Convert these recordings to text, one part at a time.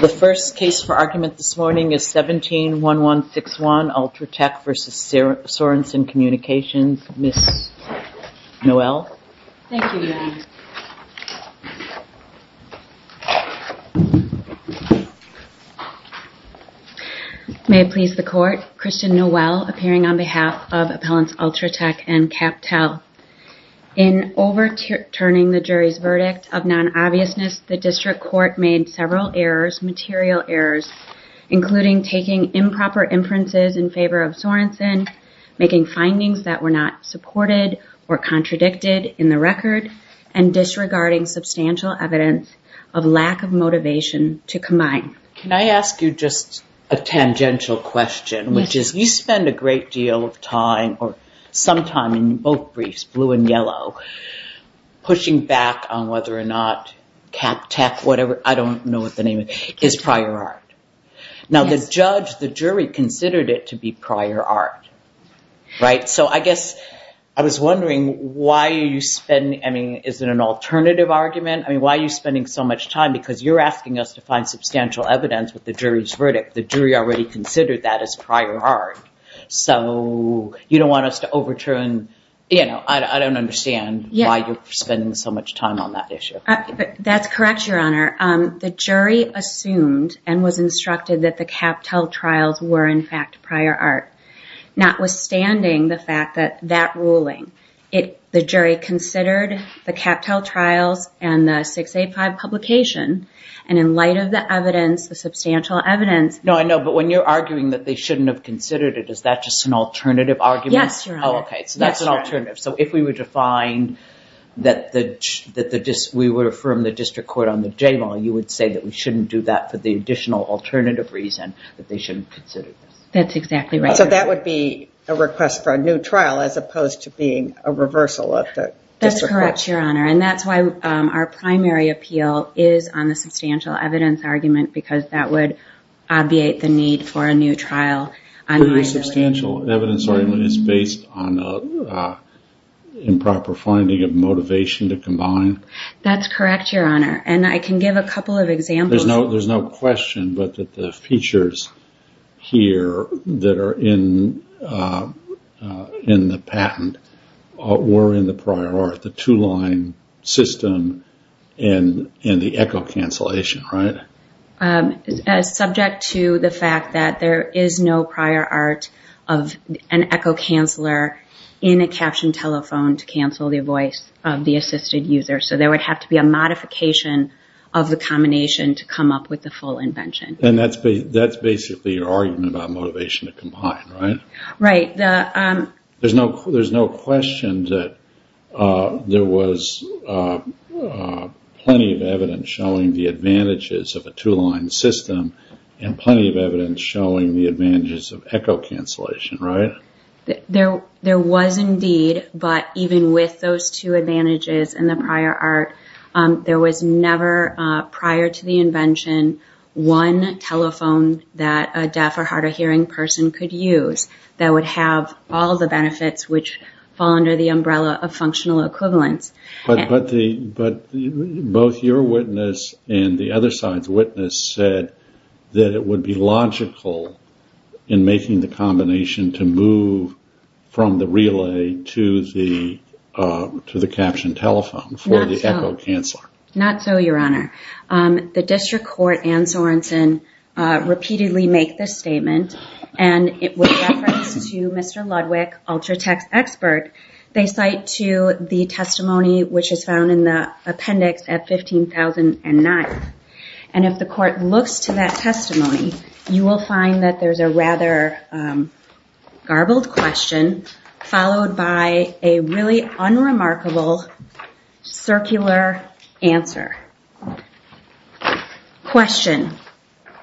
The first case for argument this morning is 17-1161, Ultratec v. Sorenson Communications. Ms. Noel? Thank you, Your Honor. May it please the Court, Christian Noel, appearing on behalf of Appellants Ultratec and CapTel. In overturning the jury's verdict of non-obviousness, the District Court made several errors, material errors, including taking improper inferences in favor of Sorenson, making findings that were not supported or contradicted in the record, and disregarding substantial evidence of lack of motivation to combine. Can I ask you just a tangential question, which is you spend a great deal of time, or some time in both briefs, blue and yellow, pushing back on whether or not CapTec, whatever, I don't know what the name is, is prior art. Now the judge, the jury, considered it to be prior art, right? So I guess I was wondering why you spend, I mean, is it an alternative argument? I mean, why are you spending so much time? Because you're asking us to find substantial evidence with the jury's verdict. The jury already considered that as prior art. So you don't want us to overturn, you know, I don't understand why you're spending so much time on that issue. That's correct, Your Honor. The jury assumed and was instructed that the CapTel trials were, in fact, prior art. Notwithstanding the fact that that ruling, the jury considered the CapTel trials and the 685 publication, and in light of the evidence, the substantial evidence. No, I know, but when you're arguing that they shouldn't have considered it, is that just an alternative argument? Yes, Your Honor. Oh, okay, so that's an alternative. So if we were to find that we would affirm the district court on the J-law, you would say that we shouldn't do that for the additional alternative reason that they shouldn't consider this. That's exactly right. So that would be a request for a new trial as opposed to being a reversal of the district court. That's correct, Your Honor, and that's why our primary appeal is on the substantial evidence argument because that would obviate the need for a new trial. The substantial evidence argument is based on improper finding of motivation to combine? That's correct, Your Honor, and I can give a couple of examples. There's no question but that the features here that are in the patent were in the prior art, the two-line system and the echo cancellation, right? Subject to the fact that there is no prior art of an echo canceller in a captioned telephone to cancel the voice of the assisted user, so there would have to be a modification of the combination to come up with the full invention. And that's basically your argument about motivation to combine, right? Right. There's no question that there was plenty of evidence showing the advantages of a two-line system and plenty of evidence showing the advantages of echo cancellation, right? There was indeed, but even with those two advantages and the prior art, there was never prior to the invention one telephone that a deaf or hard of hearing person could use that would have all the benefits which fall under the umbrella of functional equivalence. But both your witness and the other side's witness said that it would be logical in making the combination to move from the relay to the captioned telephone for the echo canceller. Not so, Your Honor. The District Court and Sorensen repeatedly make this statement, and it was referenced to Mr. Ludwig, Ultratext expert. They cite to the testimony which is found in the appendix at 15,009. And if the court looks to that testimony, you will find that there's a rather garbled question followed by a really unremarkable circular answer. Question.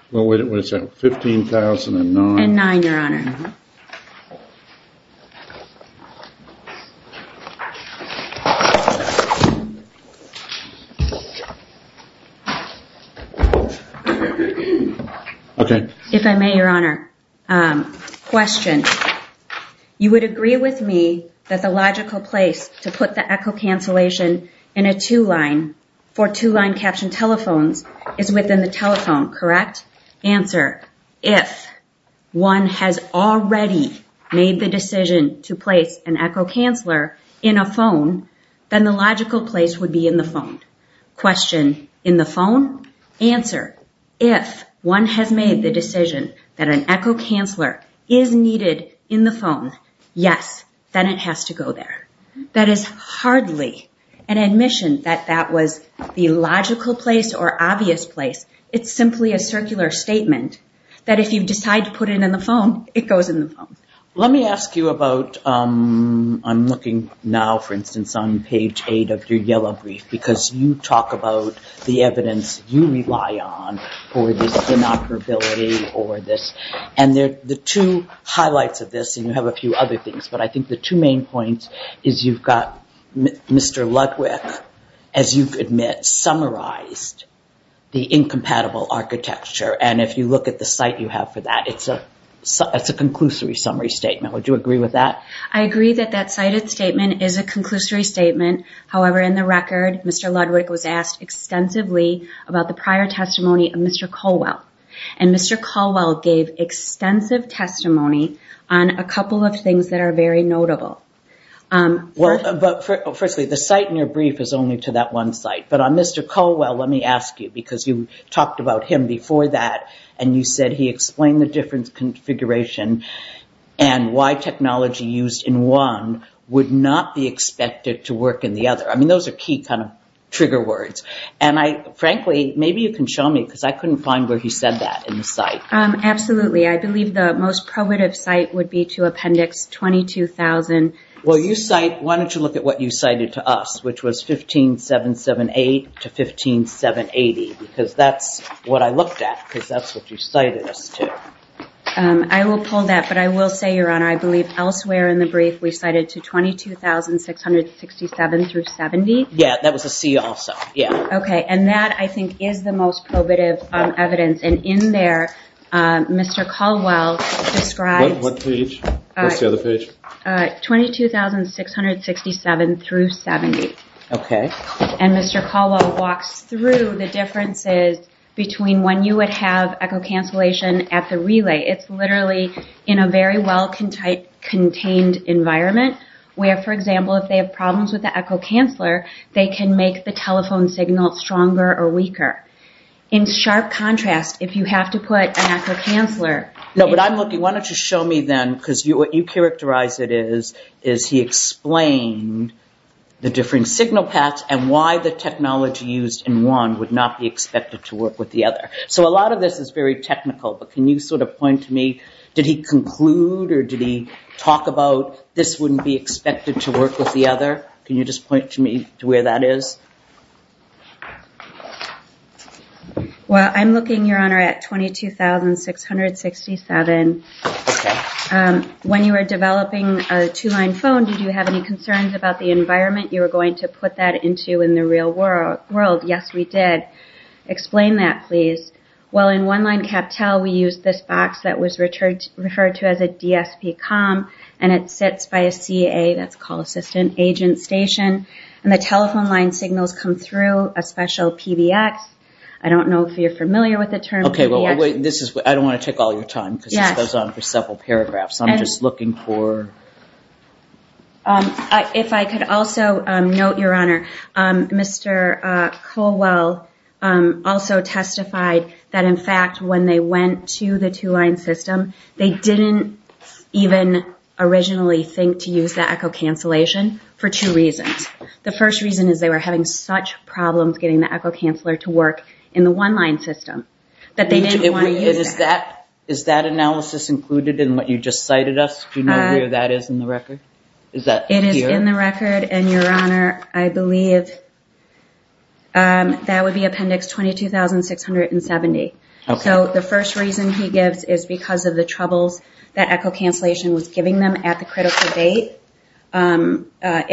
What is that, 15,009? And nine, Your Honor. Okay. If I may, Your Honor. Question. You would agree with me that the logical place to put the echo cancellation in a two-line for two-line captioned telephones is within the telephone, correct? Answer. If one has already made the decision to place an echo canceller in a phone, then the logical place would be in the phone. Question. In the phone? Answer. If one has made the decision that an echo canceller is needed in the phone, yes, then it has to go there. That is hardly an admission that that was the logical place or obvious place. It's simply a circular statement that if you decide to put it in the phone, it goes in the phone. Let me ask you about, I'm looking now, for instance, on page 8 of your yellow brief, because you talk about the evidence you rely on for this inoperability or this. And the two highlights of this, and you have a few other things, but I think the two main points is you've got Mr. Ludwick, as you admit, summarized the incompatible architecture. And if you look at the site you have for that, it's a conclusory summary statement. Would you agree with that? I agree that that cited statement is a conclusory statement. However, in the record, Mr. Ludwick was asked extensively about the prior testimony of Mr. Colwell. And Mr. Colwell gave extensive testimony on a couple of things that are very notable. Well, but firstly, the site in your brief is only to that one site. But on Mr. Colwell, let me ask you, because you talked about him before that, and you said he explained the different configuration and why technology used in one would not be expected to work in the other. I mean, those are key kind of trigger words. And frankly, maybe you can show me, because I couldn't find where he said that in the site. Absolutely. I believe the most probative site would be to Appendix 22,000. Why don't you look at what you cited to us, which was 15778 to 15780, because that's what I looked at, because that's what you cited us to. I will pull that. But I will say, Your Honor, I believe elsewhere in the brief we cited to 22,667 through 70. Yeah, that was a C also. Okay. And that, I think, is the most probative evidence. And in there, Mr. Colwell describes – What page? What's the other page? 22,667 through 70. Okay. And Mr. Colwell walks through the differences between when you would have echocancellation at the relay. It's literally in a very well-contained environment, where, for example, if they have problems with the echocanceller, they can make the telephone signal stronger or weaker. In sharp contrast, if you have to put an echocanceller – No, but I'm looking. Why don't you show me then, because what you characterize it is, is he explained the different signal paths and why the technology used in one would not be expected to work with the other. So a lot of this is very technical, but can you sort of point to me, did he conclude or did he talk about this wouldn't be expected to work with the other? Can you just point to me to where that is? Well, I'm looking, Your Honor, at 22,667. When you were developing a two-line phone, did you have any concerns about the environment you were going to put that into in the real world? Yes, we did. Explain that, please. Well, in one-line CapTel, we used this box that was referred to as a DSPCOM, and it sits by a CA – that's call assistant – agent station, and the telephone line signals come through a special PBX. I don't know if you're familiar with the term PBX. Okay, well, wait. I don't want to take all your time because this goes on for several paragraphs. I'm just looking for – If I could also note, Your Honor, Mr. Colwell also testified that, in fact, when they went to the two-line system, they didn't even originally think to use the echo cancellation for two reasons. The first reason is they were having such problems getting the echo canceller to work in the one-line system that they didn't want to use that. Is that analysis included in what you just cited us? Do you know where that is in the record? It is in the record, and, Your Honor, I believe that would be Appendix 22,670. So the first reason he gives is because of the troubles that echo cancellation was giving them at the critical date in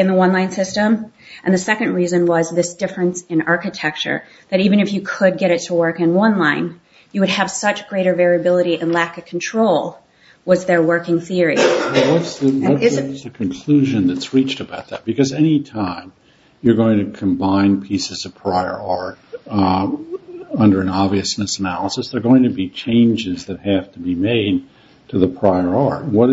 the one-line system, and the second reason was this difference in architecture, that even if you could get it to work in one line, you would have such greater variability and lack of control was their working theory. What is the conclusion that's reached about that? Because any time you're going to combine pieces of prior art under an obviousness, they're going to be changes that have to be made to the prior art. What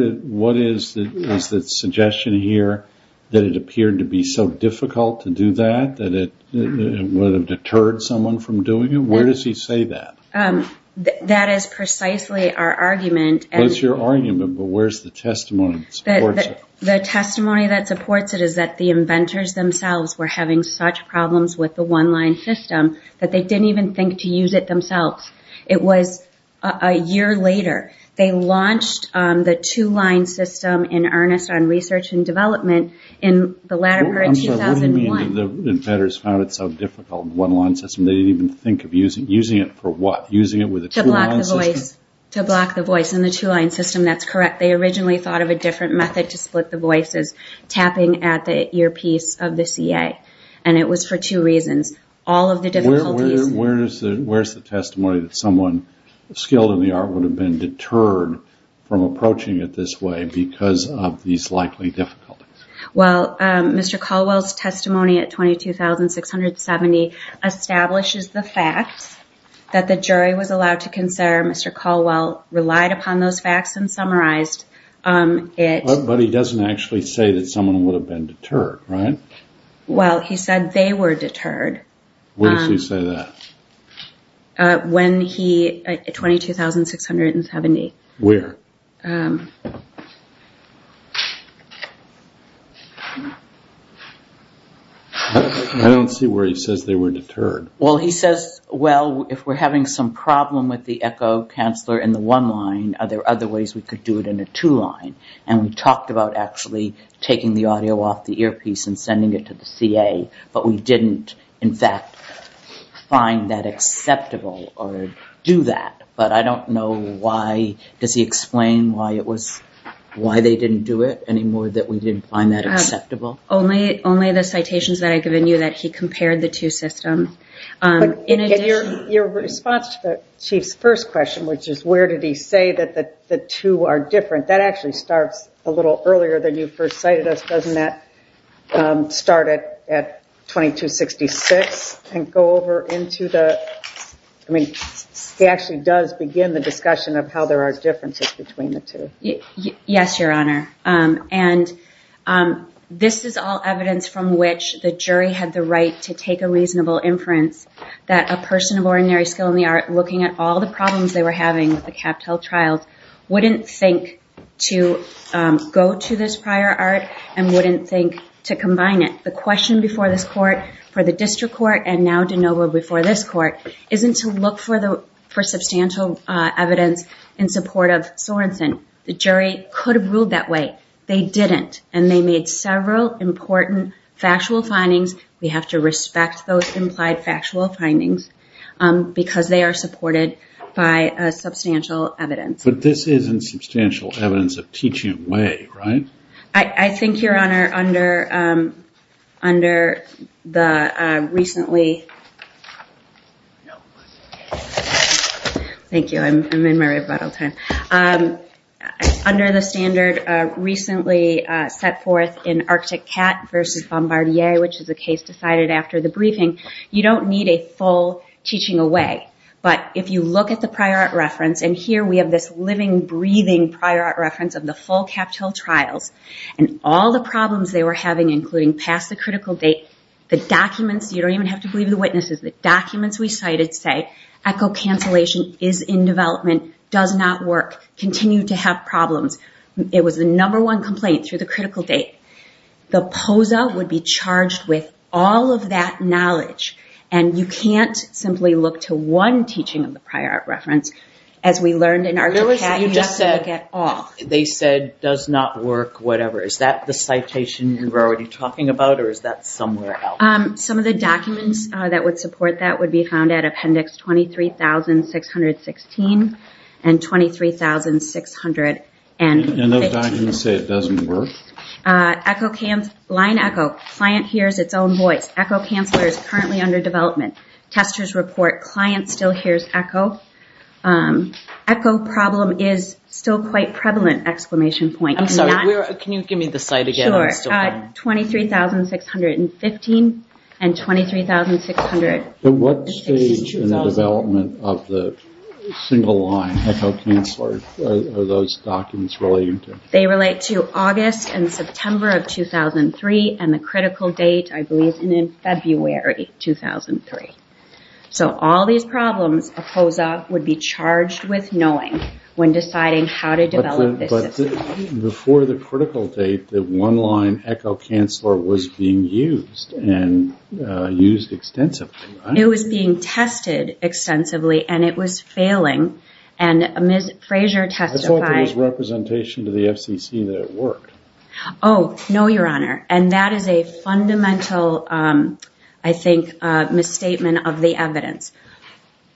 is the suggestion here that it appeared to be so difficult to do that, that it would have deterred someone from doing it? Where does he say that? That is precisely our argument. What's your argument, but where's the testimony that supports it? The testimony that supports it is that the inventors themselves were having such problems with the one-line system that they didn't even think to use it themselves. It was a year later. They launched the two-line system in earnest on research and development in 2001. I'm sorry, what do you mean the inventors found it so difficult, one-line system? They didn't even think of using it for what? Using it with a two-line system? To block the voice. To block the voice in the two-line system, that's correct. They originally thought of a different method to split the voices, tapping at the earpiece of the CA, and it was for two reasons. All of the difficulties. Where's the testimony that someone skilled in the art would have been deterred from approaching it this way because of these likely difficulties? Well, Mr. Caldwell's testimony at 22,670 establishes the fact that the jury was allowed to consider. Mr. Caldwell relied upon those facts and summarized it. But he doesn't actually say that someone would have been deterred, right? Well, he said they were deterred. When does he say that? When he, at 22,670. Where? I don't see where he says they were deterred. Well, he says, well, if we're having some problem with the echo canceler in the one-line, are there other ways we could do it in a two-line? And we talked about actually taking the audio off the earpiece and sending it to the CA, but we didn't, in fact, find that acceptable or do that. But I don't know why. Does he explain why they didn't do it anymore, that we didn't find that acceptable? Only the citations that I've given you that he compared the two systems. But your response to the Chief's first question, which is where did he say that the two are different, that actually starts a little earlier than you first cited us. Doesn't that start at 2266 and go over into the ‑‑ I mean, he actually does begin the discussion of how there are differences between the two. Yes, Your Honor. And this is all evidence from which the jury had the right to take a reasonable inference that a person of ordinary skill in the art looking at all the problems they were having with the CapTel trials wouldn't think to go to this prior art and wouldn't think to combine it. The question before this court, for the district court, and now DeNova before this court, isn't to look for substantial evidence in support of Sorenson. The jury could have ruled that way. They didn't, and they made several important factual findings. We have to respect those implied factual findings because they are supported by substantial evidence. But this isn't substantial evidence of teaching away, right? I think, Your Honor, under the recently ‑‑ Thank you. I'm in my rebuttal time. Under the standard recently set forth in Arctic Cat versus Bombardier, which is a case decided after the briefing, you don't need a full teaching away. But if you look at the prior art reference, and here we have this living, breathing prior art reference of the full CapTel trials and all the problems they were having, including past the critical date, the documents, you don't even have to believe the witnesses, the documents we cited say echo cancellation is in development, does not work, continue to have problems. It was the number one complaint through the critical date. The POSA would be charged with all of that knowledge, and you can't simply look to one teaching of the prior art reference. As we learned in Arctic Cat, you have to look at all. They said does not work, whatever. Is that the citation you're already talking about, or is that somewhere else? Some of the documents that would support that would be found at appendix 23,616 and 23,615. And those documents say it doesn't work? Line echo, client hears its own voice. Echo canceller is currently under development. Testers report client still hears echo. Echo problem is still quite prevalent, exclamation point. I'm sorry, can you give me the site again? Sure, 23,615 and 23,616. What stage in the development of the single line echo canceller are those documents relating to? They relate to August and September of 2003 and the critical date, I believe, in February 2003. So all these problems of POSA would be charged with knowing when deciding how to develop this system. Before the critical date, the one line echo canceller was being used, and used extensively, right? It was being tested extensively, and it was failing. And Ms. Frazier testified. I thought there was representation to the FCC that it worked. Oh, no, Your Honor. And that is a fundamental, I think, misstatement of the evidence.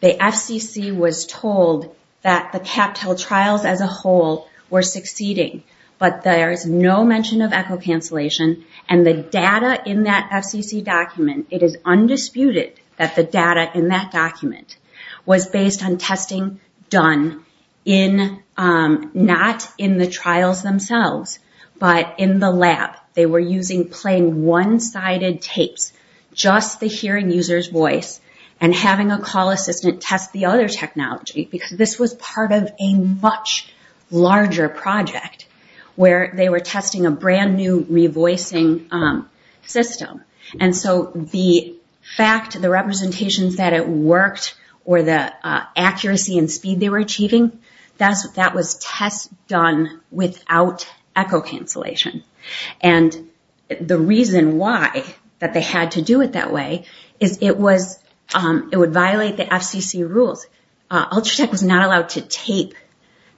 The FCC was told that the CAPTEL trials as a whole were succeeding, but there is no mention of echo cancellation. And the data in that FCC document, it is undisputed that the data in that document was based on testing done, not in the trials themselves, but in the lab. They were using plain one-sided tapes, just the hearing user's voice, and having a call assistant test the other technology. Because this was part of a much larger project where they were testing a brand new revoicing system. And so the fact, the representations that it worked, or the accuracy and speed they were achieving, that was test done without echo cancellation. And the reason why that they had to do it that way is it was, it would violate the FCC rules. Ultratech was not allowed to tape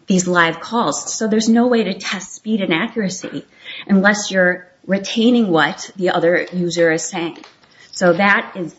these live calls. So there's no way to test speed and accuracy unless you're retaining what the other user is saying. So that is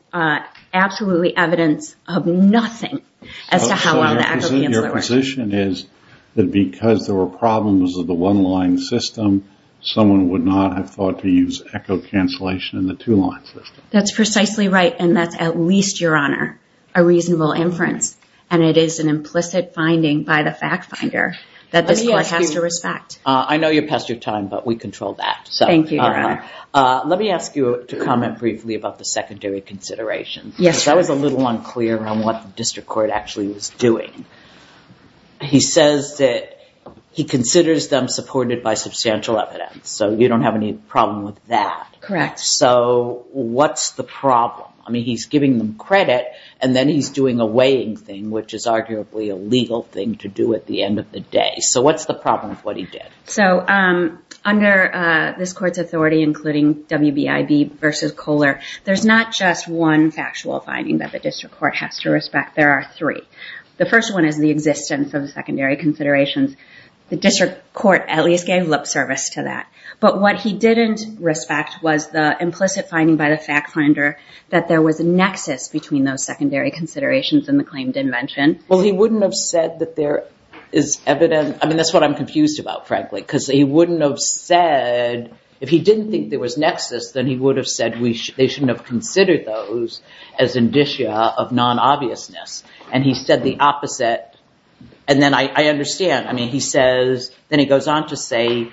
absolutely evidence of nothing as to how well the echo cancellation works. Your position is that because there were problems with the one-line system, someone would not have thought to use echo cancellation in the two-line system. That's precisely right, and that's at least, Your Honor, a reasonable inference. And it is an implicit finding by the fact finder that this court has to respect. I know you passed your time, but we control that. Thank you, Your Honor. Let me ask you to comment briefly about the secondary considerations. Yes, Your Honor. I was a little unclear on what the district court actually was doing. He says that he considers them supported by substantial evidence, so you don't have any problem with that. Correct. So what's the problem? I mean, he's giving them credit, and then he's doing a weighing thing, which is arguably a legal thing to do at the end of the day. So what's the problem with what he did? So under this court's authority, including WBIB versus Kohler, there's not just one factual finding that the district court has to respect. There are three. The first one is the existence of the secondary considerations. The district court at least gave lip service to that. But what he didn't respect was the implicit finding by the fact finder that there was a nexus between those secondary considerations and the claimed invention. Well, he wouldn't have said that there is evidence. I mean, that's what I'm confused about, frankly, because he wouldn't have said, if he didn't think there was nexus, then he would have said they shouldn't have considered those as indicia of non-obviousness. And he said the opposite. And then I understand. I mean, he says, then he goes on to say,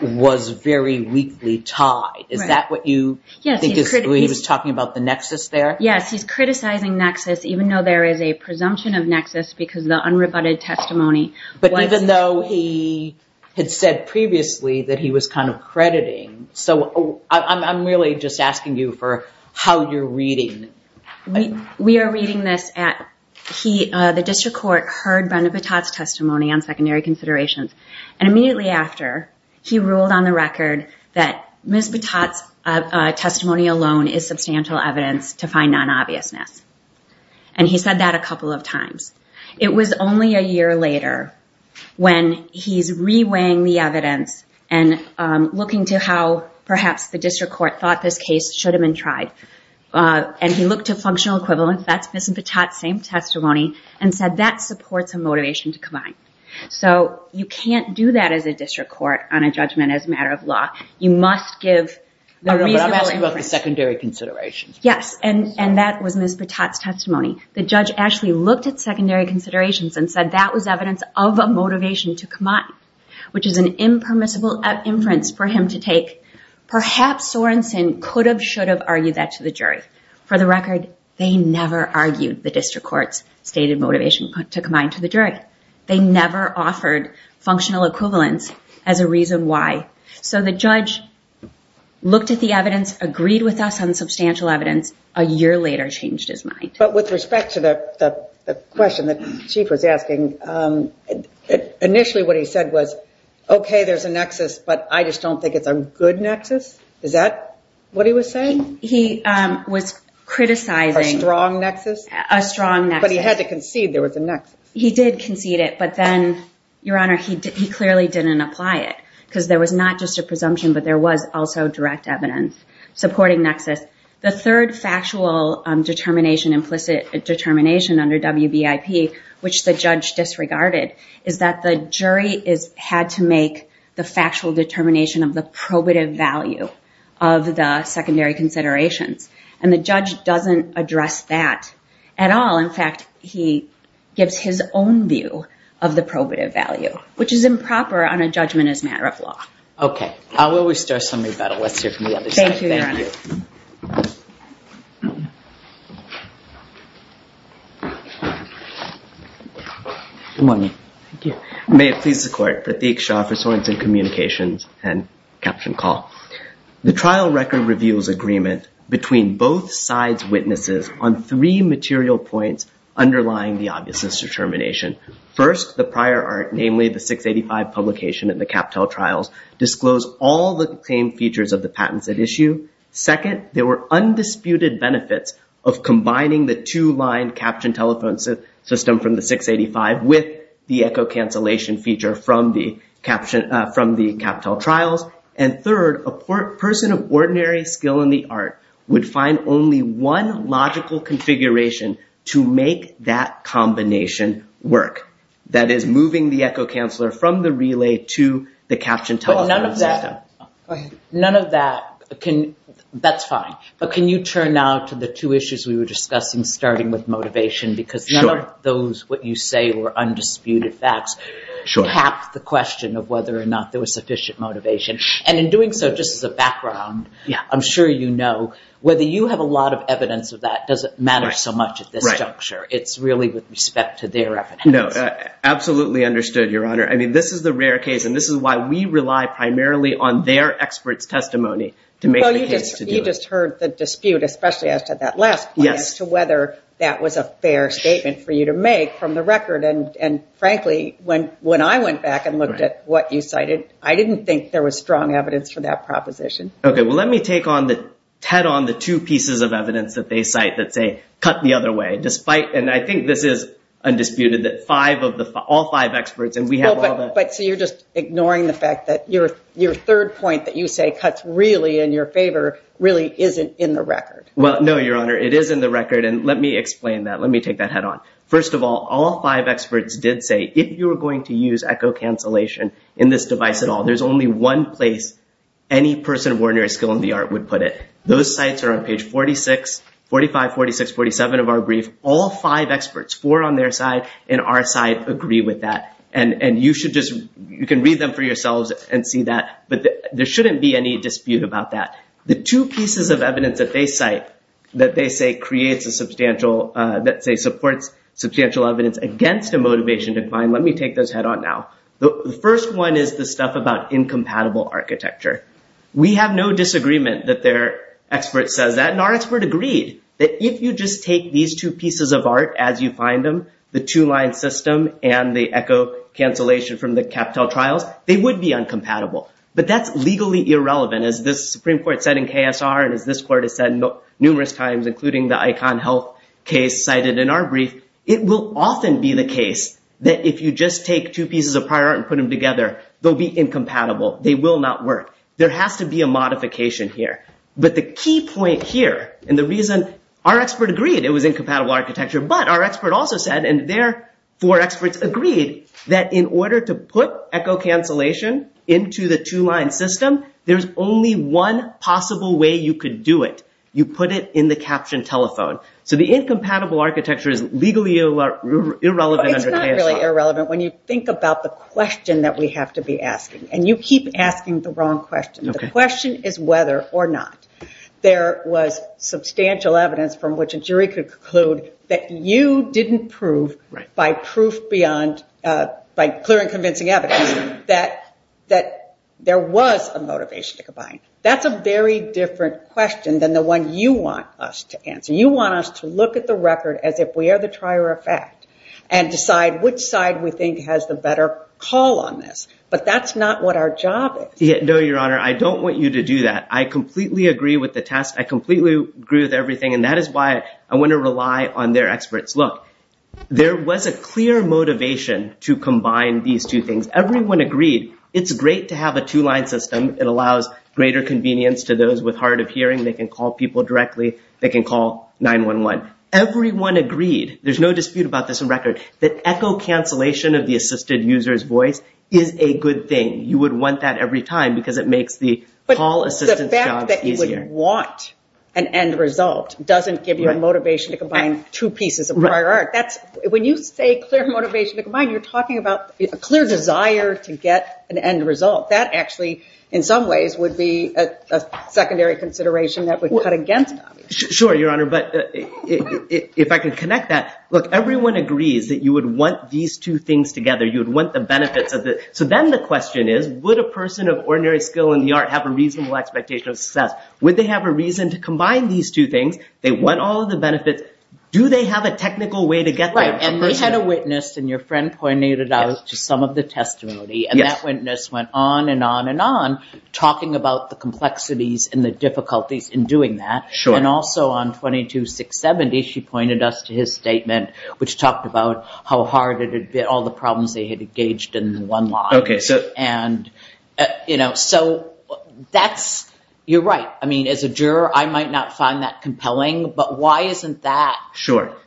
was very weakly tied. Is that what you think he was talking about, the nexus there? Yes, he's criticizing nexus, even though there is a presumption of nexus because the unrebutted testimony was. But even though he had said previously that he was kind of crediting. So I'm really just asking you for how you're reading it. We are reading this at the district court heard Brenda Patat's testimony on secondary considerations. And immediately after, he ruled on the record that Ms. Patat's testimony alone is substantial evidence to find non-obviousness. And he said that a couple of times. It was only a year later when he's reweighing the evidence and looking to how perhaps the district court thought this case should have been tried. And he looked to functional equivalence, that's Ms. Patat's same testimony, and said that supports a motivation to combine. So you can't do that as a district court on a judgment as a matter of law. You must give a reasonable inference. But I'm asking about the secondary considerations. Yes, and that was Ms. Patat's testimony. The judge actually looked at secondary considerations and said that was evidence of a motivation to combine, which is an impermissible inference for him to take. Perhaps Sorenson could have, should have argued that to the jury. For the record, they never argued the district court's stated motivation to combine to the jury. They never offered functional equivalence as a reason why. So the judge looked at the evidence, agreed with us on the substantial evidence, a year later changed his mind. But with respect to the question that the chief was asking, initially what he said was, okay, there's a nexus, but I just don't think it's a good nexus. Is that what he was saying? He was criticizing. A strong nexus? A strong nexus. But he had to concede there was a nexus. He did concede it, but then, Your Honor, he clearly didn't apply it, because there was not just a presumption, but there was also direct evidence supporting nexus. The third factual determination, implicit determination under WBIP, which the judge disregarded, is that the jury had to make the factual determination of the probative value of the secondary considerations. And the judge doesn't address that at all. In fact, he gives his own view of the probative value, which is improper on a judgment as a matter of law. Okay. I'll always start something about it. Let's hear from the other side. Thank you. Good morning. May it please the Court. Prateek Shah for Sorensen Communications and Caption Call. The trial record reveals agreement between both sides' witnesses on three material points underlying the obviousness determination. First, the prior art, namely the 685 publication and the CapTel trials, disclose all the same features of the patents at issue. Second, there were undisputed benefits of combining the two-line caption telephone system from the 685 with the echo cancellation feature from the CapTel trials. And third, a person of ordinary skill in the art would find only one logical configuration to make that combination work, that is moving the echo canceller from the relay to the caption telephone system. None of that, that's fine. But can you turn now to the two issues we were discussing, starting with motivation? Sure. Because none of those, what you say, were undisputed facts. Sure. Half the question of whether or not there was sufficient motivation. And in doing so, just as a background, I'm sure you know, whether you have a lot of evidence of that doesn't matter so much at this juncture. Right. It's really with respect to their evidence. No, absolutely understood, Your Honor. I mean, this is the rare case, and this is why we rely primarily on their experts' testimony to make the case to do it. Well, you just heard the dispute, especially as to that last point, as to whether that was a fair statement for you to make from the record. And frankly, when I went back and looked at what you cited, I didn't think there was strong evidence for that proposition. Okay. Well, let me take on the, just head on the two pieces of evidence that they cite that say, cut the other way. Despite, and I think this is undisputed, that five of the, all five experts, and we have all that. But so you're just ignoring the fact that your third point that you say cuts really in your favor really isn't in the record. Well, no, Your Honor. It is in the record. And let me explain that. Let me take that head on. First of all, all five experts did say if you were going to use echo cancellation in this device at all, there's only one place any person of ordinary skill in the art would put it. Those sites are on page 46, 45, 46, 47 of our brief. All five experts, four on their side and our side agree with that. And you should just, you can read them for yourselves and see that, but there shouldn't be any dispute about that. The two pieces of evidence that they cite that they say creates a substantial, that say supports substantial evidence against a motivation decline. Let me take those head on now. The first one is the stuff about incompatible architecture. We have no disagreement that their expert says that. And our expert agreed that if you just take these two pieces of art, as you find them, the two line system and the echo cancellation from the CapTel trials, they would be incompatible, but that's legally irrelevant. As this Supreme Court said in KSR and as this court has said numerous times, including the icon health case cited in our brief, it will often be the case that if you just take two pieces of prior and put them together, they'll be incompatible. They will not work. There has to be a modification here, but the key point here and the reason our expert agreed it was incompatible architecture, but our expert also said, and their four experts agreed that in order to put echo cancellation into the two line system, there's only one possible way you could do it. You put it in the caption telephone. So the incompatible architecture is legally irrelevant. It's not really irrelevant. When you think about the question that we have to be asking and you keep asking the wrong question, the question is whether or not there was substantial evidence from which a jury could conclude that you didn't prove by proof beyond, by clear and convincing evidence that, that there was a motivation to combine. That's a very different question than the one you want us to answer. You want us to look at the record as if we are the trier effect and decide which side we think has the better call on this, but that's not what our job is. Yeah, no, your honor. I don't want you to do that. I completely agree with the test. I completely agree with everything and that is why I want to rely on their experts. Look, there was a clear motivation to combine these two things. Everyone agreed. It's great to have a two line system. It allows greater convenience to those with hard of hearing. They can call people directly. They can call 9-1-1. Everyone agreed. There's no dispute about this in record. That echo cancellation of the assisted user's voice is a good thing. You would want that every time because it makes the call assistance job easier. But the fact that you would want an end result doesn't give you a motivation to combine two pieces of prior art. When you say clear motivation to combine, you're talking about a clear desire to get an end result. That actually in some ways would be a secondary consideration that would cut against. Sure, your honor, but if I can connect that, look, everyone agrees that you would want these two things together. You would want the benefits of it. So then the question is would a person of ordinary skill in the art have a reasonable expectation of success? Would they have a reason to combine these two things? They want all of the benefits. Do they have a technical way to get there? And they had a witness and your friend pointed it out to some of the testimony. And that witness went on and on and on talking about the complexities and the difficulties in doing that. And also on 22-670, she pointed us to his statement, which talked about how hard it had been, all the problems they had engaged in one line. And, you know, so that's, you're right. I mean, as a juror, I might not find that compelling. But why isn't that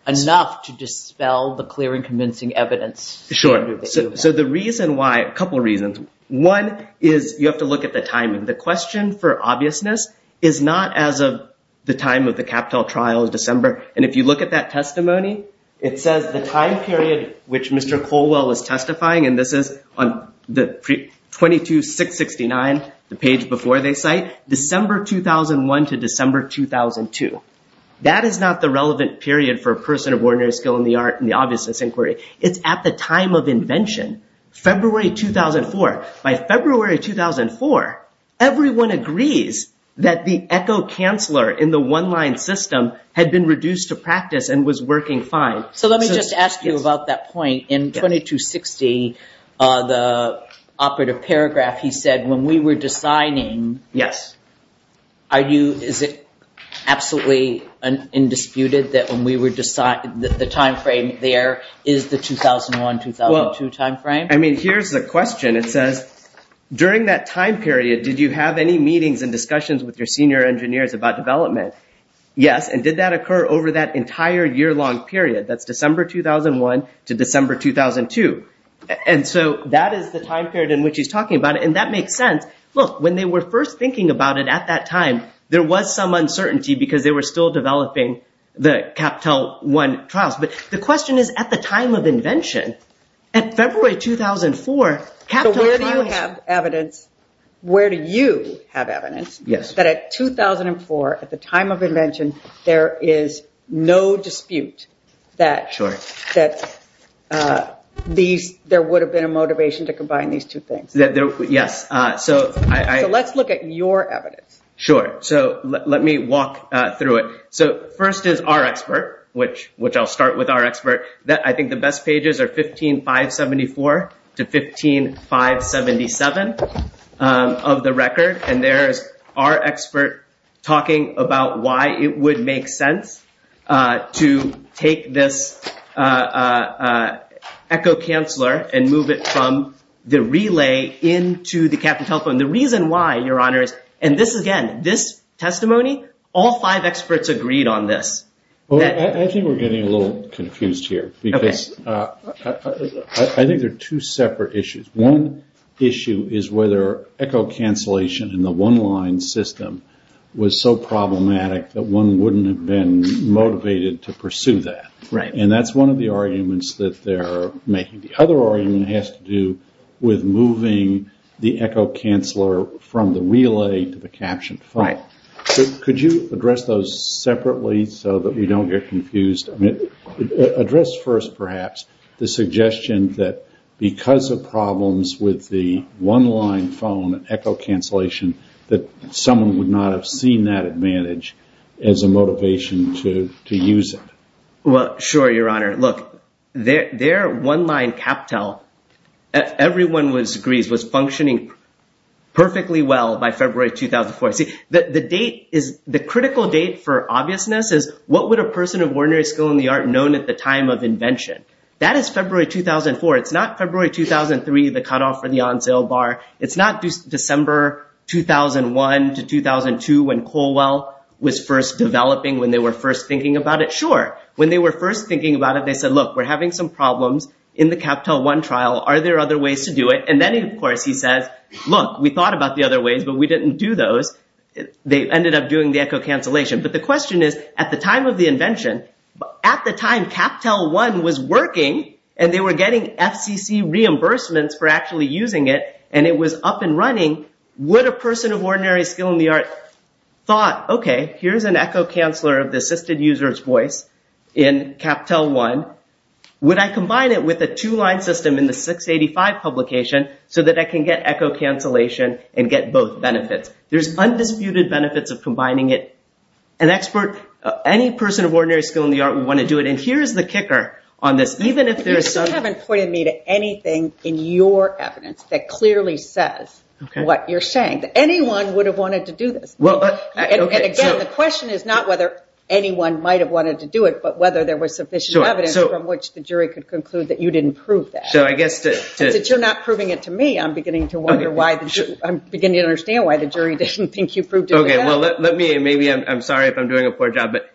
enough to dispel the clear and convincing evidence? Sure. So the reason why, a couple of reasons. One is you have to look at the timing. The question for obviousness is not as of the time of the CapTel trial in December. And if you look at that testimony, it says the time period, which Mr. Colwell is testifying, and this is on 22-669, the page before they cite, December 2001 to December 2002. That is not the relevant period for a person of ordinary skill in the art and the obviousness inquiry. It's at the time of invention, February 2004. By February 2004, everyone agrees that the echo canceler in the one-line system had been reduced to practice and was working fine. So let me just ask you about that point. In 22-670, the operative paragraph, he said, when we were deciding, are you, is it absolutely indisputed that when we were deciding, the timeframe there is the 2001-2002 timeframe? I mean, here's the question. It says, during that time period, did you have any meetings and discussions with your senior engineers about development? Yes. And did that occur over that entire year-long period? That's December 2001 to December 2002. And so that is the time period in which he's talking about it. And that makes sense. Look, when they were first thinking about it at that time, there was some uncertainty because they were still developing the CapTel one trials. But the question is, at the time of invention, at February 2004, CapTel trials- So where do you have evidence, where do you have evidence that at 2004, at the time of invention, there is no dispute that there would have been a motivation to combine these two things? Yes. So let's look at your evidence. Sure. So let me walk through it. So first is our expert, which I'll start with our expert. I think the best pages are 15.574 to 15.577 of the record. And there's our expert talking about why it would make sense to take this echo canceler and move it from the relay into the CapTel phone. The reason why, Your Honor, is- and this, again, this testimony, all five experts agreed on this. I think we're getting a little confused here. Okay. Because I think there are two separate issues. One issue is whether echo cancellation in the one line system was so problematic that one wouldn't have been motivated to pursue that. Right. And that's one of the arguments that they're making. The other argument has to do with moving the echo canceler from the relay to the CapTel phone. Right. Could you address those separately so that we don't get confused? Address first, perhaps, the suggestion that because of problems with the one line phone echo cancellation that someone would not have seen that advantage as a motivation to use it. Well, sure, Your Honor. Look, their one line CapTel, everyone agrees, was functioning perfectly well by February 2004. See, the date is- the critical date for obviousness is what would a person of ordinary skill in the art known at the time of invention? That is February 2004. It's not February 2003, the cutoff for the on-sale bar. It's not December 2001 to 2002 when Colwell was first developing, when they were first thinking about it. Sure, when they were first thinking about it, they said, look, we're having some problems in the CapTel One trial. Are there other ways to do it? And then, of course, he says, look, we thought about the other ways, but we didn't do those. They ended up doing the echo cancellation. But the question is, at the time of the invention, at the time, CapTel One was working, and they were getting FCC reimbursements for actually using it, and it was up and running, would a person of ordinary skill in the art thought, okay, here's an echo canceler of the assisted user's voice in CapTel One. Would I combine it with a two-line system in the 685 publication so that I can get echo cancellation and get both benefits? There's undisputed benefits of combining it. An expert, any person of ordinary skill in the art would want to do it, and here's the kicker on this. You haven't pointed me to anything in your evidence that clearly says what you're saying, that anyone would have wanted to do this. Again, the question is not whether anyone might have wanted to do it, but whether there was sufficient evidence from which the jury could conclude that you didn't prove that. Since you're not proving it to me, I'm beginning to wonder why, I'm beginning to understand why the jury didn't think you proved it to them. Okay, well, let me, and maybe I'm sorry if I'm doing a poor job, but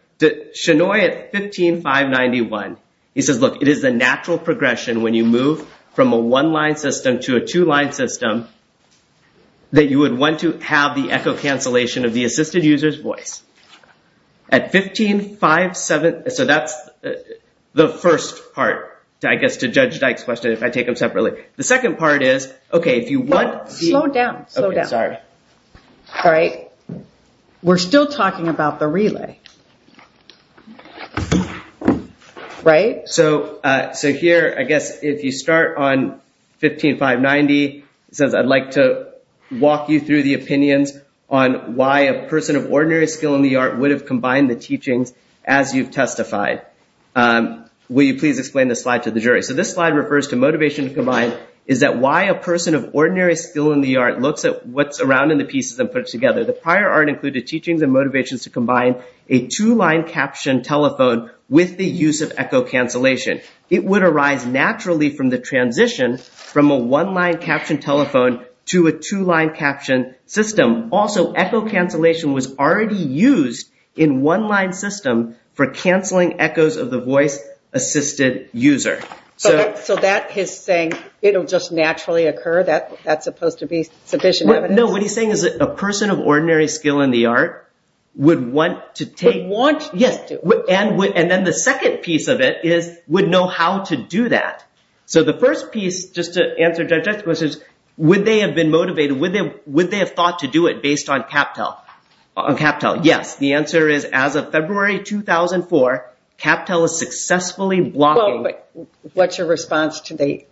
Shannoy at 15591, he says, look, it is a natural progression when you move from a one-line system to a two-line system that you would want to have the echo cancellation of the assisted user's voice. At 1557, so that's the first part, I guess, to Judge Dyke's question, if I take them separately. The second part is, okay, if you want the- Slow down, slow down. Okay, sorry. All right. We're still talking about the relay. Right? So here, I guess, if you start on 15590, it says I'd like to walk you through the opinions on why a person of ordinary skill in the art would have combined the teachings as you've testified. Will you please explain this slide to the jury? So this slide refers to motivation to combine, is that why a person of ordinary skill in the art looks at what's around in the pieces and puts it together. The prior art included teachings and motivations to combine a two-line captioned telephone with the use of echo cancellation. It would arise naturally from the transition from a one-line captioned telephone to a two-line captioned system. Also, echo cancellation was already used in one-line system for canceling echoes of the voice-assisted user. So that is saying it'll just naturally occur? That's supposed to be sufficient evidence? No, what he's saying is that a person of ordinary skill in the art would want to take- Would want to? Yes. And then the second piece of it is would know how to do that. So the first piece, just to answer Judge Dyke's question, would they have been motivated, would they have thought to do it based on CapTel? On CapTel, yes. The answer is as of February 2004, CapTel is successfully blocking- What's your response to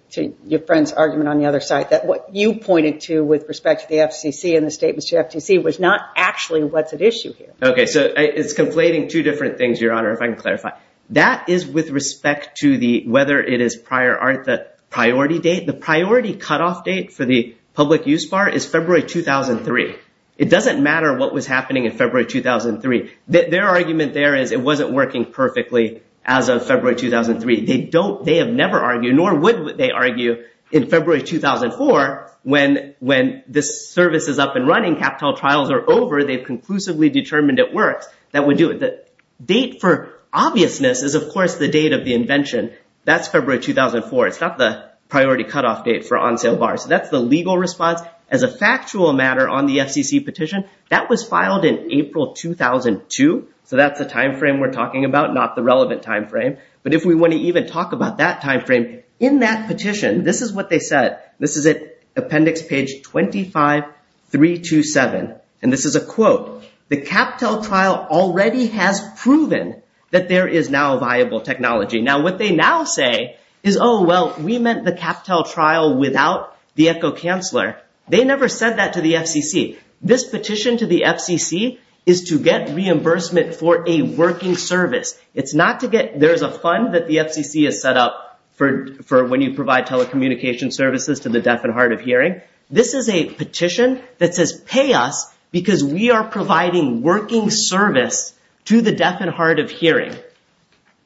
your friend's argument on the other side, that what you pointed to with respect to the FCC and the statements to the FCC was not actually what's at issue here? Okay, so it's conflating two different things, Your Honor, if I can clarify. That is with respect to whether it is prior art, the priority date, the priority cutoff date for the public use bar is February 2003. It doesn't matter what was happening in February 2003. Their argument there is it wasn't working perfectly as of February 2003. They have never argued, nor would they argue, in February 2004, when this service is up and running, CapTel trials are over, they've conclusively determined it works, that would do it. The date for obviousness is, of course, the date of the invention. That's February 2004. It's not the priority cutoff date for on-sale bars. That's the legal response. As a factual matter on the FCC petition, that was filed in April 2002, so that's the time frame we're talking about, not the relevant time frame. But if we want to even talk about that time frame, in that petition, this is what they said. This is at appendix page 25, 327. And this is a quote. The CapTel trial already has proven that there is now viable technology. Now, what they now say is, oh, well, we meant the CapTel trial without the echo canceler. They never said that to the FCC. This petition to the FCC is to get reimbursement for a working service. It's not to get—there's a fund that the FCC has set up for when you provide telecommunication services to the deaf and hard of hearing. This is a petition that says, pay us because we are providing working service to the deaf and hard of hearing.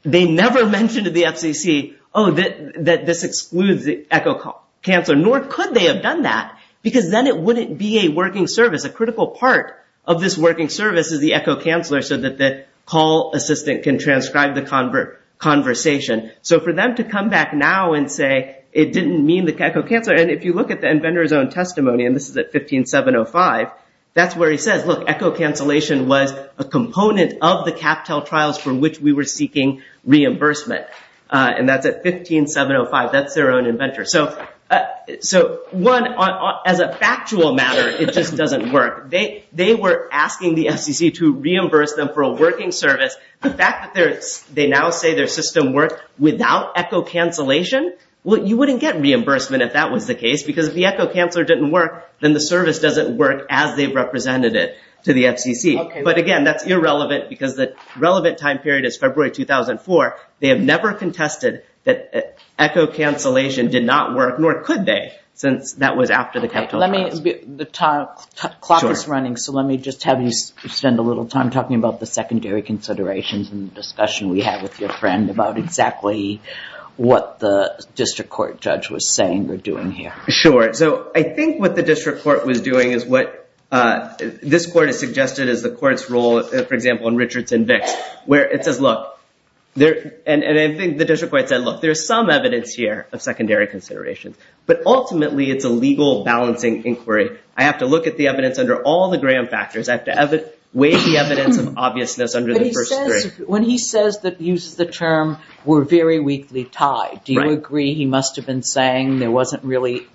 They never mentioned to the FCC, oh, that this excludes the echo canceler, nor could they have done that, because then it wouldn't be a working service. A critical part of this working service is the echo canceler so that the call assistant can transcribe the conversation. So for them to come back now and say it didn't mean the echo canceler— and if you look at the inventor's own testimony, and this is at 15705, that's where he says, look, echo cancellation was a component of the CapTel trials for which we were seeking reimbursement. And that's at 15705. That's their own inventor. So one, as a factual matter, it just doesn't work. They were asking the FCC to reimburse them for a working service. The fact that they now say their system worked without echo cancellation, well, you wouldn't get reimbursement if that was the case, because if the echo canceler didn't work, then the service doesn't work as they've represented it to the FCC. But again, that's irrelevant, because the relevant time period is February 2004. They have never contested that echo cancellation did not work, nor could they, since that was after the CapTel trials. The clock is running, so let me just have you spend a little time talking about the secondary considerations and the discussion we had with your friend about exactly what the district court judge was saying or doing here. Sure. So I think what the district court was doing is what— this is the court's rule, for example, in Richardson-Vicks, where it says, look, and I think the district court said, look, there's some evidence here of secondary considerations, but ultimately it's a legal balancing inquiry. I have to look at the evidence under all the gram factors. I have to weigh the evidence of obviousness under the first three. But he says, when he says that he uses the term, we're very weakly tied. Do you agree he must have been saying there wasn't really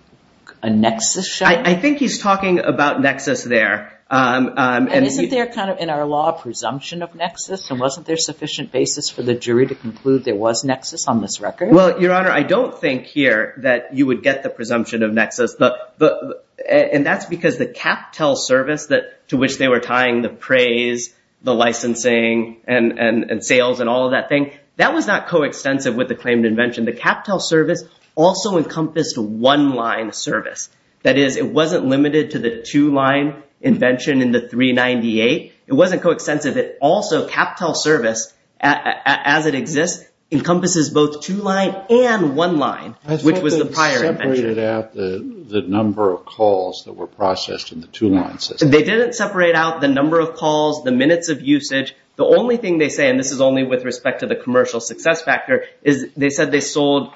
a nexus shown? I think he's talking about nexus there. And isn't there kind of in our law a presumption of nexus? And wasn't there sufficient basis for the jury to conclude there was nexus on this record? Well, Your Honor, I don't think here that you would get the presumption of nexus. And that's because the CapTel service to which they were tying the praise, the licensing, and sales and all of that thing, that was not coextensive with the claim to invention. The CapTel service also encompassed one-line service. That is, it wasn't limited to the two-line invention in the 398. It wasn't coextensive. It also, CapTel service, as it exists, encompasses both two-line and one-line, which was the prior invention. I thought they separated out the number of calls that were processed in the two-line system. They didn't separate out the number of calls, the minutes of usage. The only thing they say, and this is only with respect to the commercial success factor, is they said they sold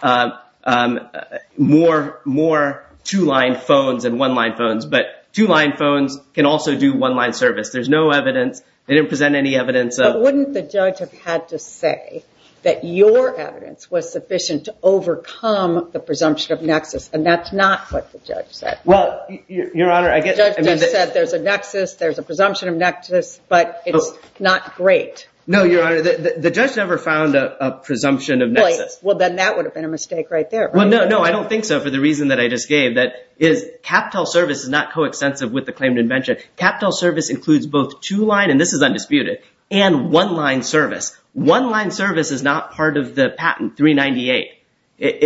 more two-line phones than one-line phones. But two-line phones can also do one-line service. There's no evidence. They didn't present any evidence. But wouldn't the judge have had to say that your evidence was sufficient to overcome the presumption of nexus, and that's not what the judge said? Well, Your Honor, I guess – The judge just said there's a nexus, there's a presumption of nexus, but it's not great. No, Your Honor, the judge never found a presumption of nexus. Well, then that would have been a mistake right there. Well, no, no, I don't think so for the reason that I just gave, that CapTel service is not coextensive with the claimed invention. CapTel service includes both two-line, and this is undisputed, and one-line service. One-line service is not part of the patent 398.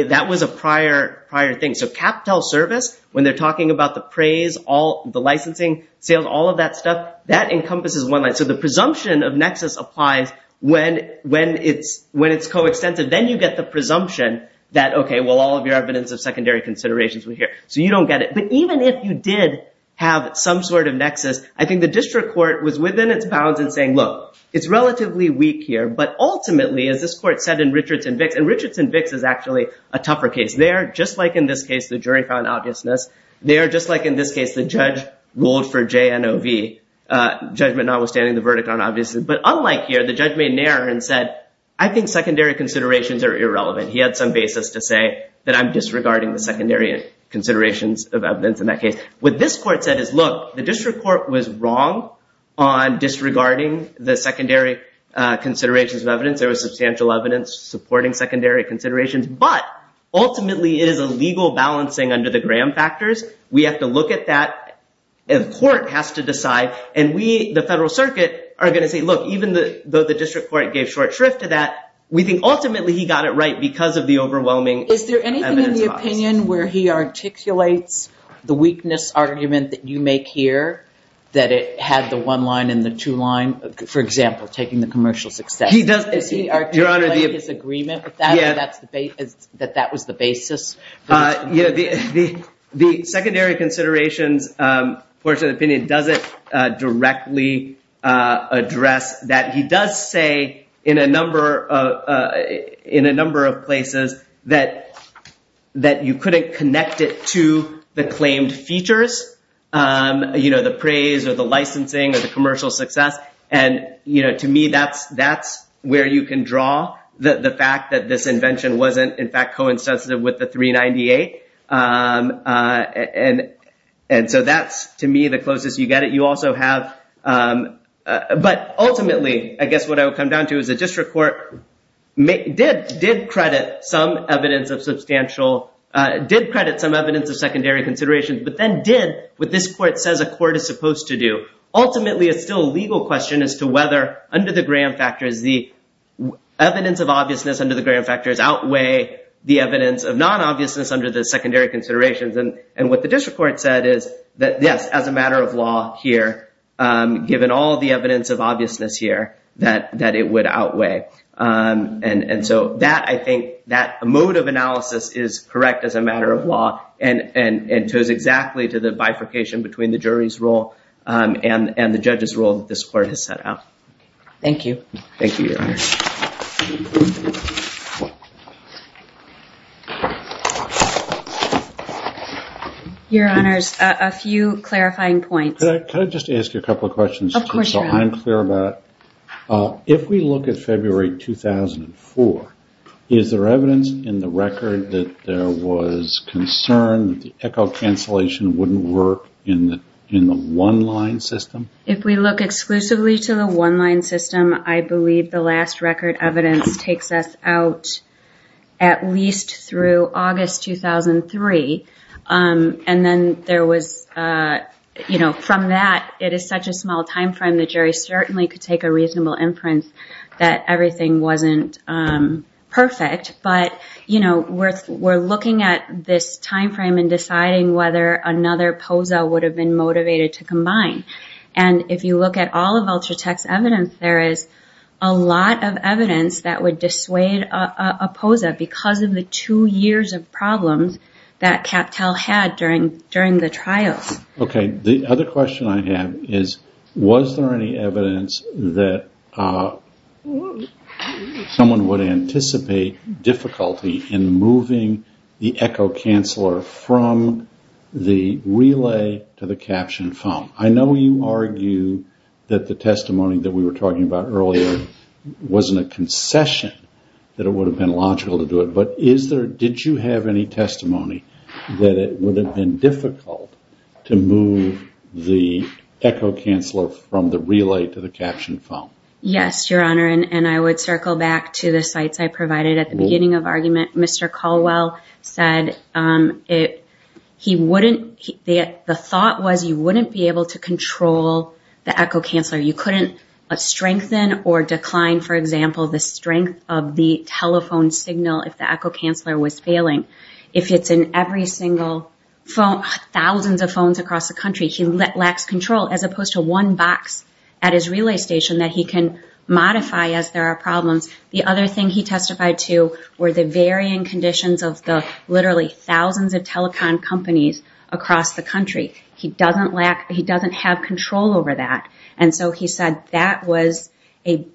That was a prior thing. So CapTel service, when they're talking about the praise, the licensing sales, all of that stuff, that encompasses one-line. So the presumption of nexus applies when it's coextensive. Then you get the presumption that, okay, well, all of your evidence of secondary considerations were here. So you don't get it. But even if you did have some sort of nexus, I think the district court was within its bounds in saying, look, it's relatively weak here, but ultimately, as this court said in Richards and Vicks, and Richards and Vicks is actually a tougher case there, just like in this case the jury found obviousness there, just like in this case the judge ruled for JNOV, judgment notwithstanding the verdict on obviousness. But unlike here, the judge made an error and said, I think secondary considerations are irrelevant. He had some basis to say that I'm disregarding the secondary considerations of evidence in that case. What this court said is, look, the district court was wrong on disregarding the secondary considerations of evidence. There was substantial evidence supporting secondary considerations, but ultimately, it is a legal balancing under the Graham factors. We have to look at that. The court has to decide. And we, the federal circuit, are going to say, look, even though the district court gave short shrift to that, we think ultimately he got it right because of the overwhelming evidence. Is there anything in the opinion where he articulates the weakness argument that you make here, that it had the one line and the two line, for example, taking the commercial success? Does he articulate his agreement with that, that that was the basis? The secondary considerations portion of the opinion doesn't directly address that. He does say in a number of places that you couldn't connect it to the claimed features, the praise or the licensing or the commercial success. And to me, that's where you can draw the fact that this invention wasn't, in fact, coincidental with the 398. And so that's, to me, the closest you get it. You also have, but ultimately, I guess what I would come down to is the district court did credit some evidence of substantial, did credit some evidence of secondary considerations, but then did what this court says a court is supposed to do. Ultimately, it's still a legal question as to whether under the Graham factors, evidence of obviousness under the Graham factors outweigh the evidence of non-obviousness under the secondary considerations. And what the district court said is that, yes, as a matter of law here, given all the evidence of obviousness here, that it would outweigh. And so that, I think, that mode of analysis is correct as a matter of law and it goes exactly to the bifurcation between the jury's role and the judge's role that this court has set out. Thank you. Thank you, Your Honor. Your Honors, a few clarifying points. Can I just ask you a couple of questions? Of course, Your Honor. So I'm clear about it. If we look at February 2004, is there evidence in the record that there was concern that the echo cancellation wouldn't work in the one-line system? If we look exclusively to the one-line system, I believe the last record evidence takes us out at least through August 2003. And then there was, you know, from that, it is such a small timeframe, the jury certainly could take a reasonable inference that everything wasn't perfect. But, you know, we're looking at this timeframe and deciding whether another POSA would have been motivated to combine. And if you look at all of Ultratech's evidence, there is a lot of evidence that would dissuade a POSA because of the two years of problems that CapTel had during the trials. Okay. The other question I have is, was there any evidence that someone would anticipate difficulty in moving the echo canceller from the relay to the caption foam? I know you argue that the testimony that we were talking about earlier wasn't a concession, that it would have been logical to do it. But is there, did you have any testimony that it would have been difficult to move the echo canceller from the relay to the caption foam? Yes, Your Honor. And I would circle back to the sites I provided at the beginning of argument. Mr. Caldwell said he wouldn't, the thought was you wouldn't be able to control the echo canceller. You couldn't strengthen or decline, for example, the strength of the telephone signal if the echo canceller was failing. If it's in every single phone, thousands of phones across the country, he lacks control as opposed to one box at his relay station that he can modify as there are problems. The other thing he testified to were the varying conditions of the literally thousands of telecom companies across the country. He doesn't lack, he doesn't have control over that. And so he said that was a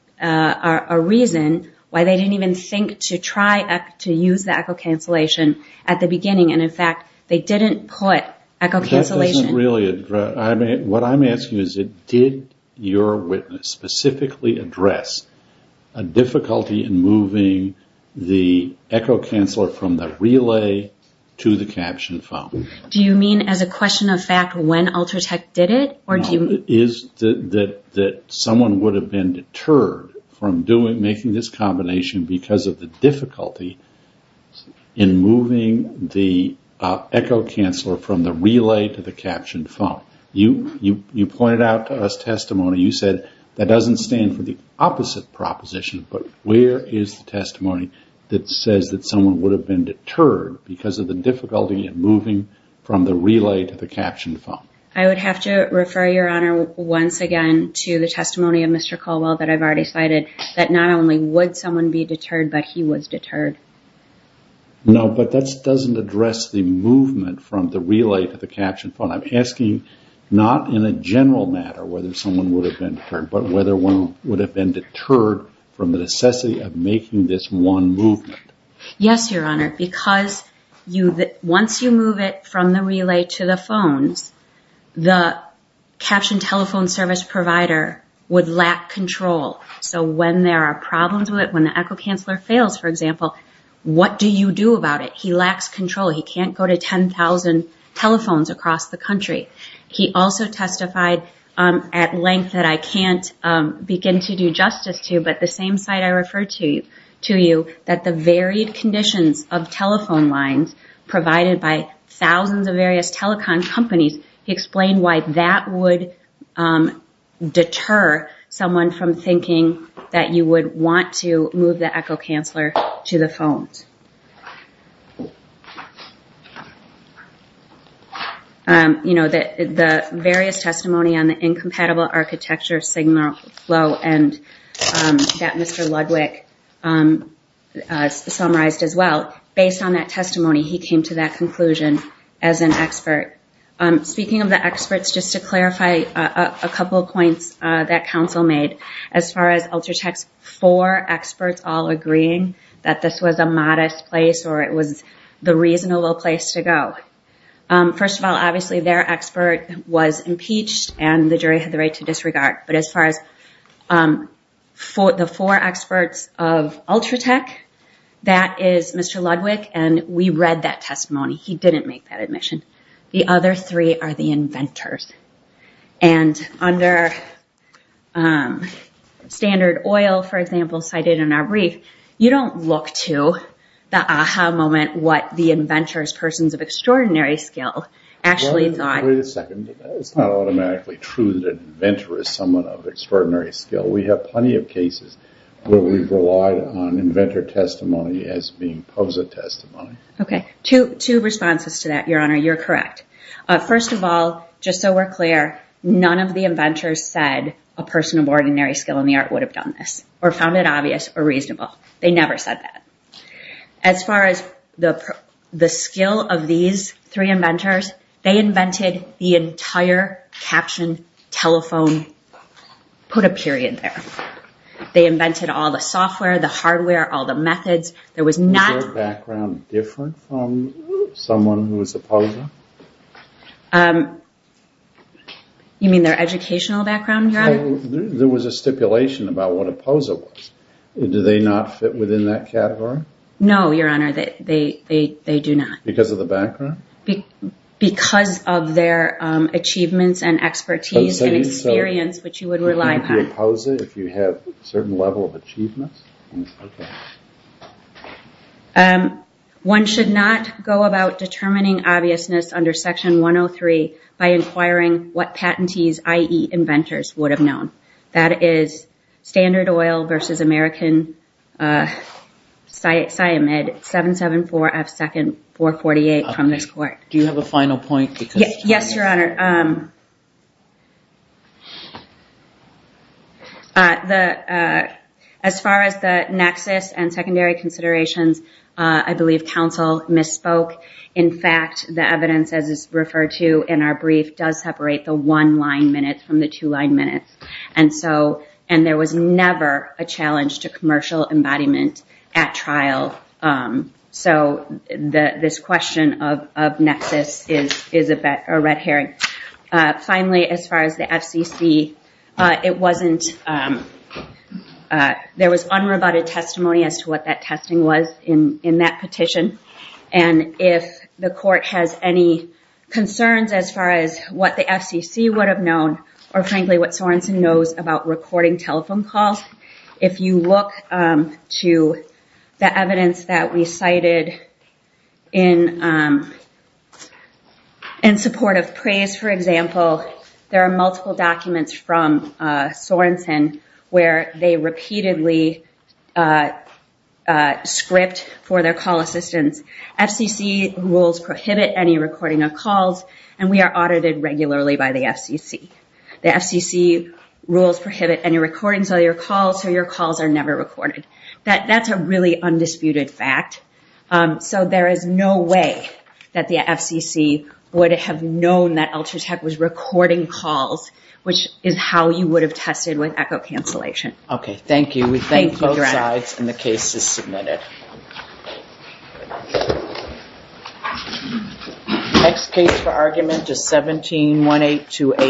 reason why they didn't even think to try to use the echo cancellation at the beginning. And in fact, they didn't put echo cancellation. That doesn't really address, what I'm asking is did your witness specifically address a difficulty in moving the echo canceller from the relay to the caption foam? Do you mean as a question of fact when Ultratech did it? Is that someone would have been deterred from making this combination because of the difficulty in moving the echo canceller from the relay to the caption foam? You pointed out to us testimony, you said that doesn't stand for the opposite proposition, but where is the testimony that says that someone would have been deterred because of the difficulty in moving from the relay to the caption foam? I would have to refer your honor once again to the testimony of Mr. Caldwell that I've already cited, that not only would someone be deterred, but he was deterred. No, but that doesn't address the movement from the relay to the caption foam. I'm asking not in a general matter whether someone would have been deterred, but whether one would have been deterred from the necessity of making this one movement. Yes, your honor. Because once you move it from the relay to the phones, the caption telephone service provider would lack control. So when there are problems with it, when the echo canceller fails, for example, what do you do about it? He lacks control. He can't go to 10,000 telephones across the country. He also testified at length that I can't begin to do justice to, but the same site I referred to you that the varied conditions of telephone lines provided by thousands of various telecom companies, he explained why that would deter someone from thinking that you would want to move the echo canceller to the phones. You know, the various testimony on the incompatible architecture, signal flow, and that Mr. Ludwig summarized as well, based on that testimony, he came to that conclusion as an expert. Speaking of the experts, just to clarify a couple of points that counsel made, as far as Ultratech's four experts all agreeing that this was a modest place or it was the reasonable place to go. First of all, obviously, their expert was impeached and the jury had the right to disregard. But as far as the four experts of Ultratech, that is Mr. Ludwig, and we read that testimony. He didn't make that admission. The other three are the inventors. And under Standard Oil, for example, cited in our brief, you don't look to the aha moment what the inventors, persons of extraordinary skill, actually thought. Wait a second. It's not automatically true that an inventor is someone of extraordinary skill. We have plenty of cases where we've relied on inventor testimony as being POSA testimony. Okay. Two responses to that, Your Honor. You're correct. First of all, just so we're clear, none of the inventors said a person of ordinary skill in the art would have done this or found it obvious or reasonable. They never said that. As far as the skill of these three inventors, they invented the entire caption, telephone, put a period there. They invented all the software, the hardware, all the methods. Was their background different from someone who was a POSA? You mean their educational background, Your Honor? There was a stipulation about what a POSA was. Do they not fit within that category? No, Your Honor. They do not. Because of the background? Because of their achievements and expertise and experience, which you would rely upon. Would you be a POSA if you had a certain level of achievements? Okay. One should not go about determining obviousness under Section 103 by inquiring what patentees, i.e., inventors, would have known. That is Standard Oil v. American Sciamid 774F2nd 448 from this court. Do you have a final point? Yes, Your Honor. As far as the nexus and secondary considerations, I believe counsel misspoke. In fact, the evidence, as is referred to in our brief, does separate the one-line minutes from the two-line minutes. And there was never a challenge to commercial embodiment at trial. So this question of nexus is a red herring. Finally, as far as the FCC, there was unrebutted testimony as to what that testing was in that petition. And if the court has any concerns as far as what the FCC would have known or, frankly, what Sorenson knows about recording telephone calls, if you look to the evidence that we cited in support of PRAISE, for example, there are multiple documents from Sorenson where they repeatedly script for their call assistants. FCC rules prohibit any recording of calls, and we are audited regularly by the FCC. The FCC rules prohibit any recordings of your calls, so your calls are never recorded. That's a really undisputed fact. So there is no way that the FCC would have known that Ultratech was recording calls, which is how you would have tested with echo cancellation. Okay, thank you. Thank you, Your Honor. We thank both sides, and the case is submitted. Next case for argument is 171828.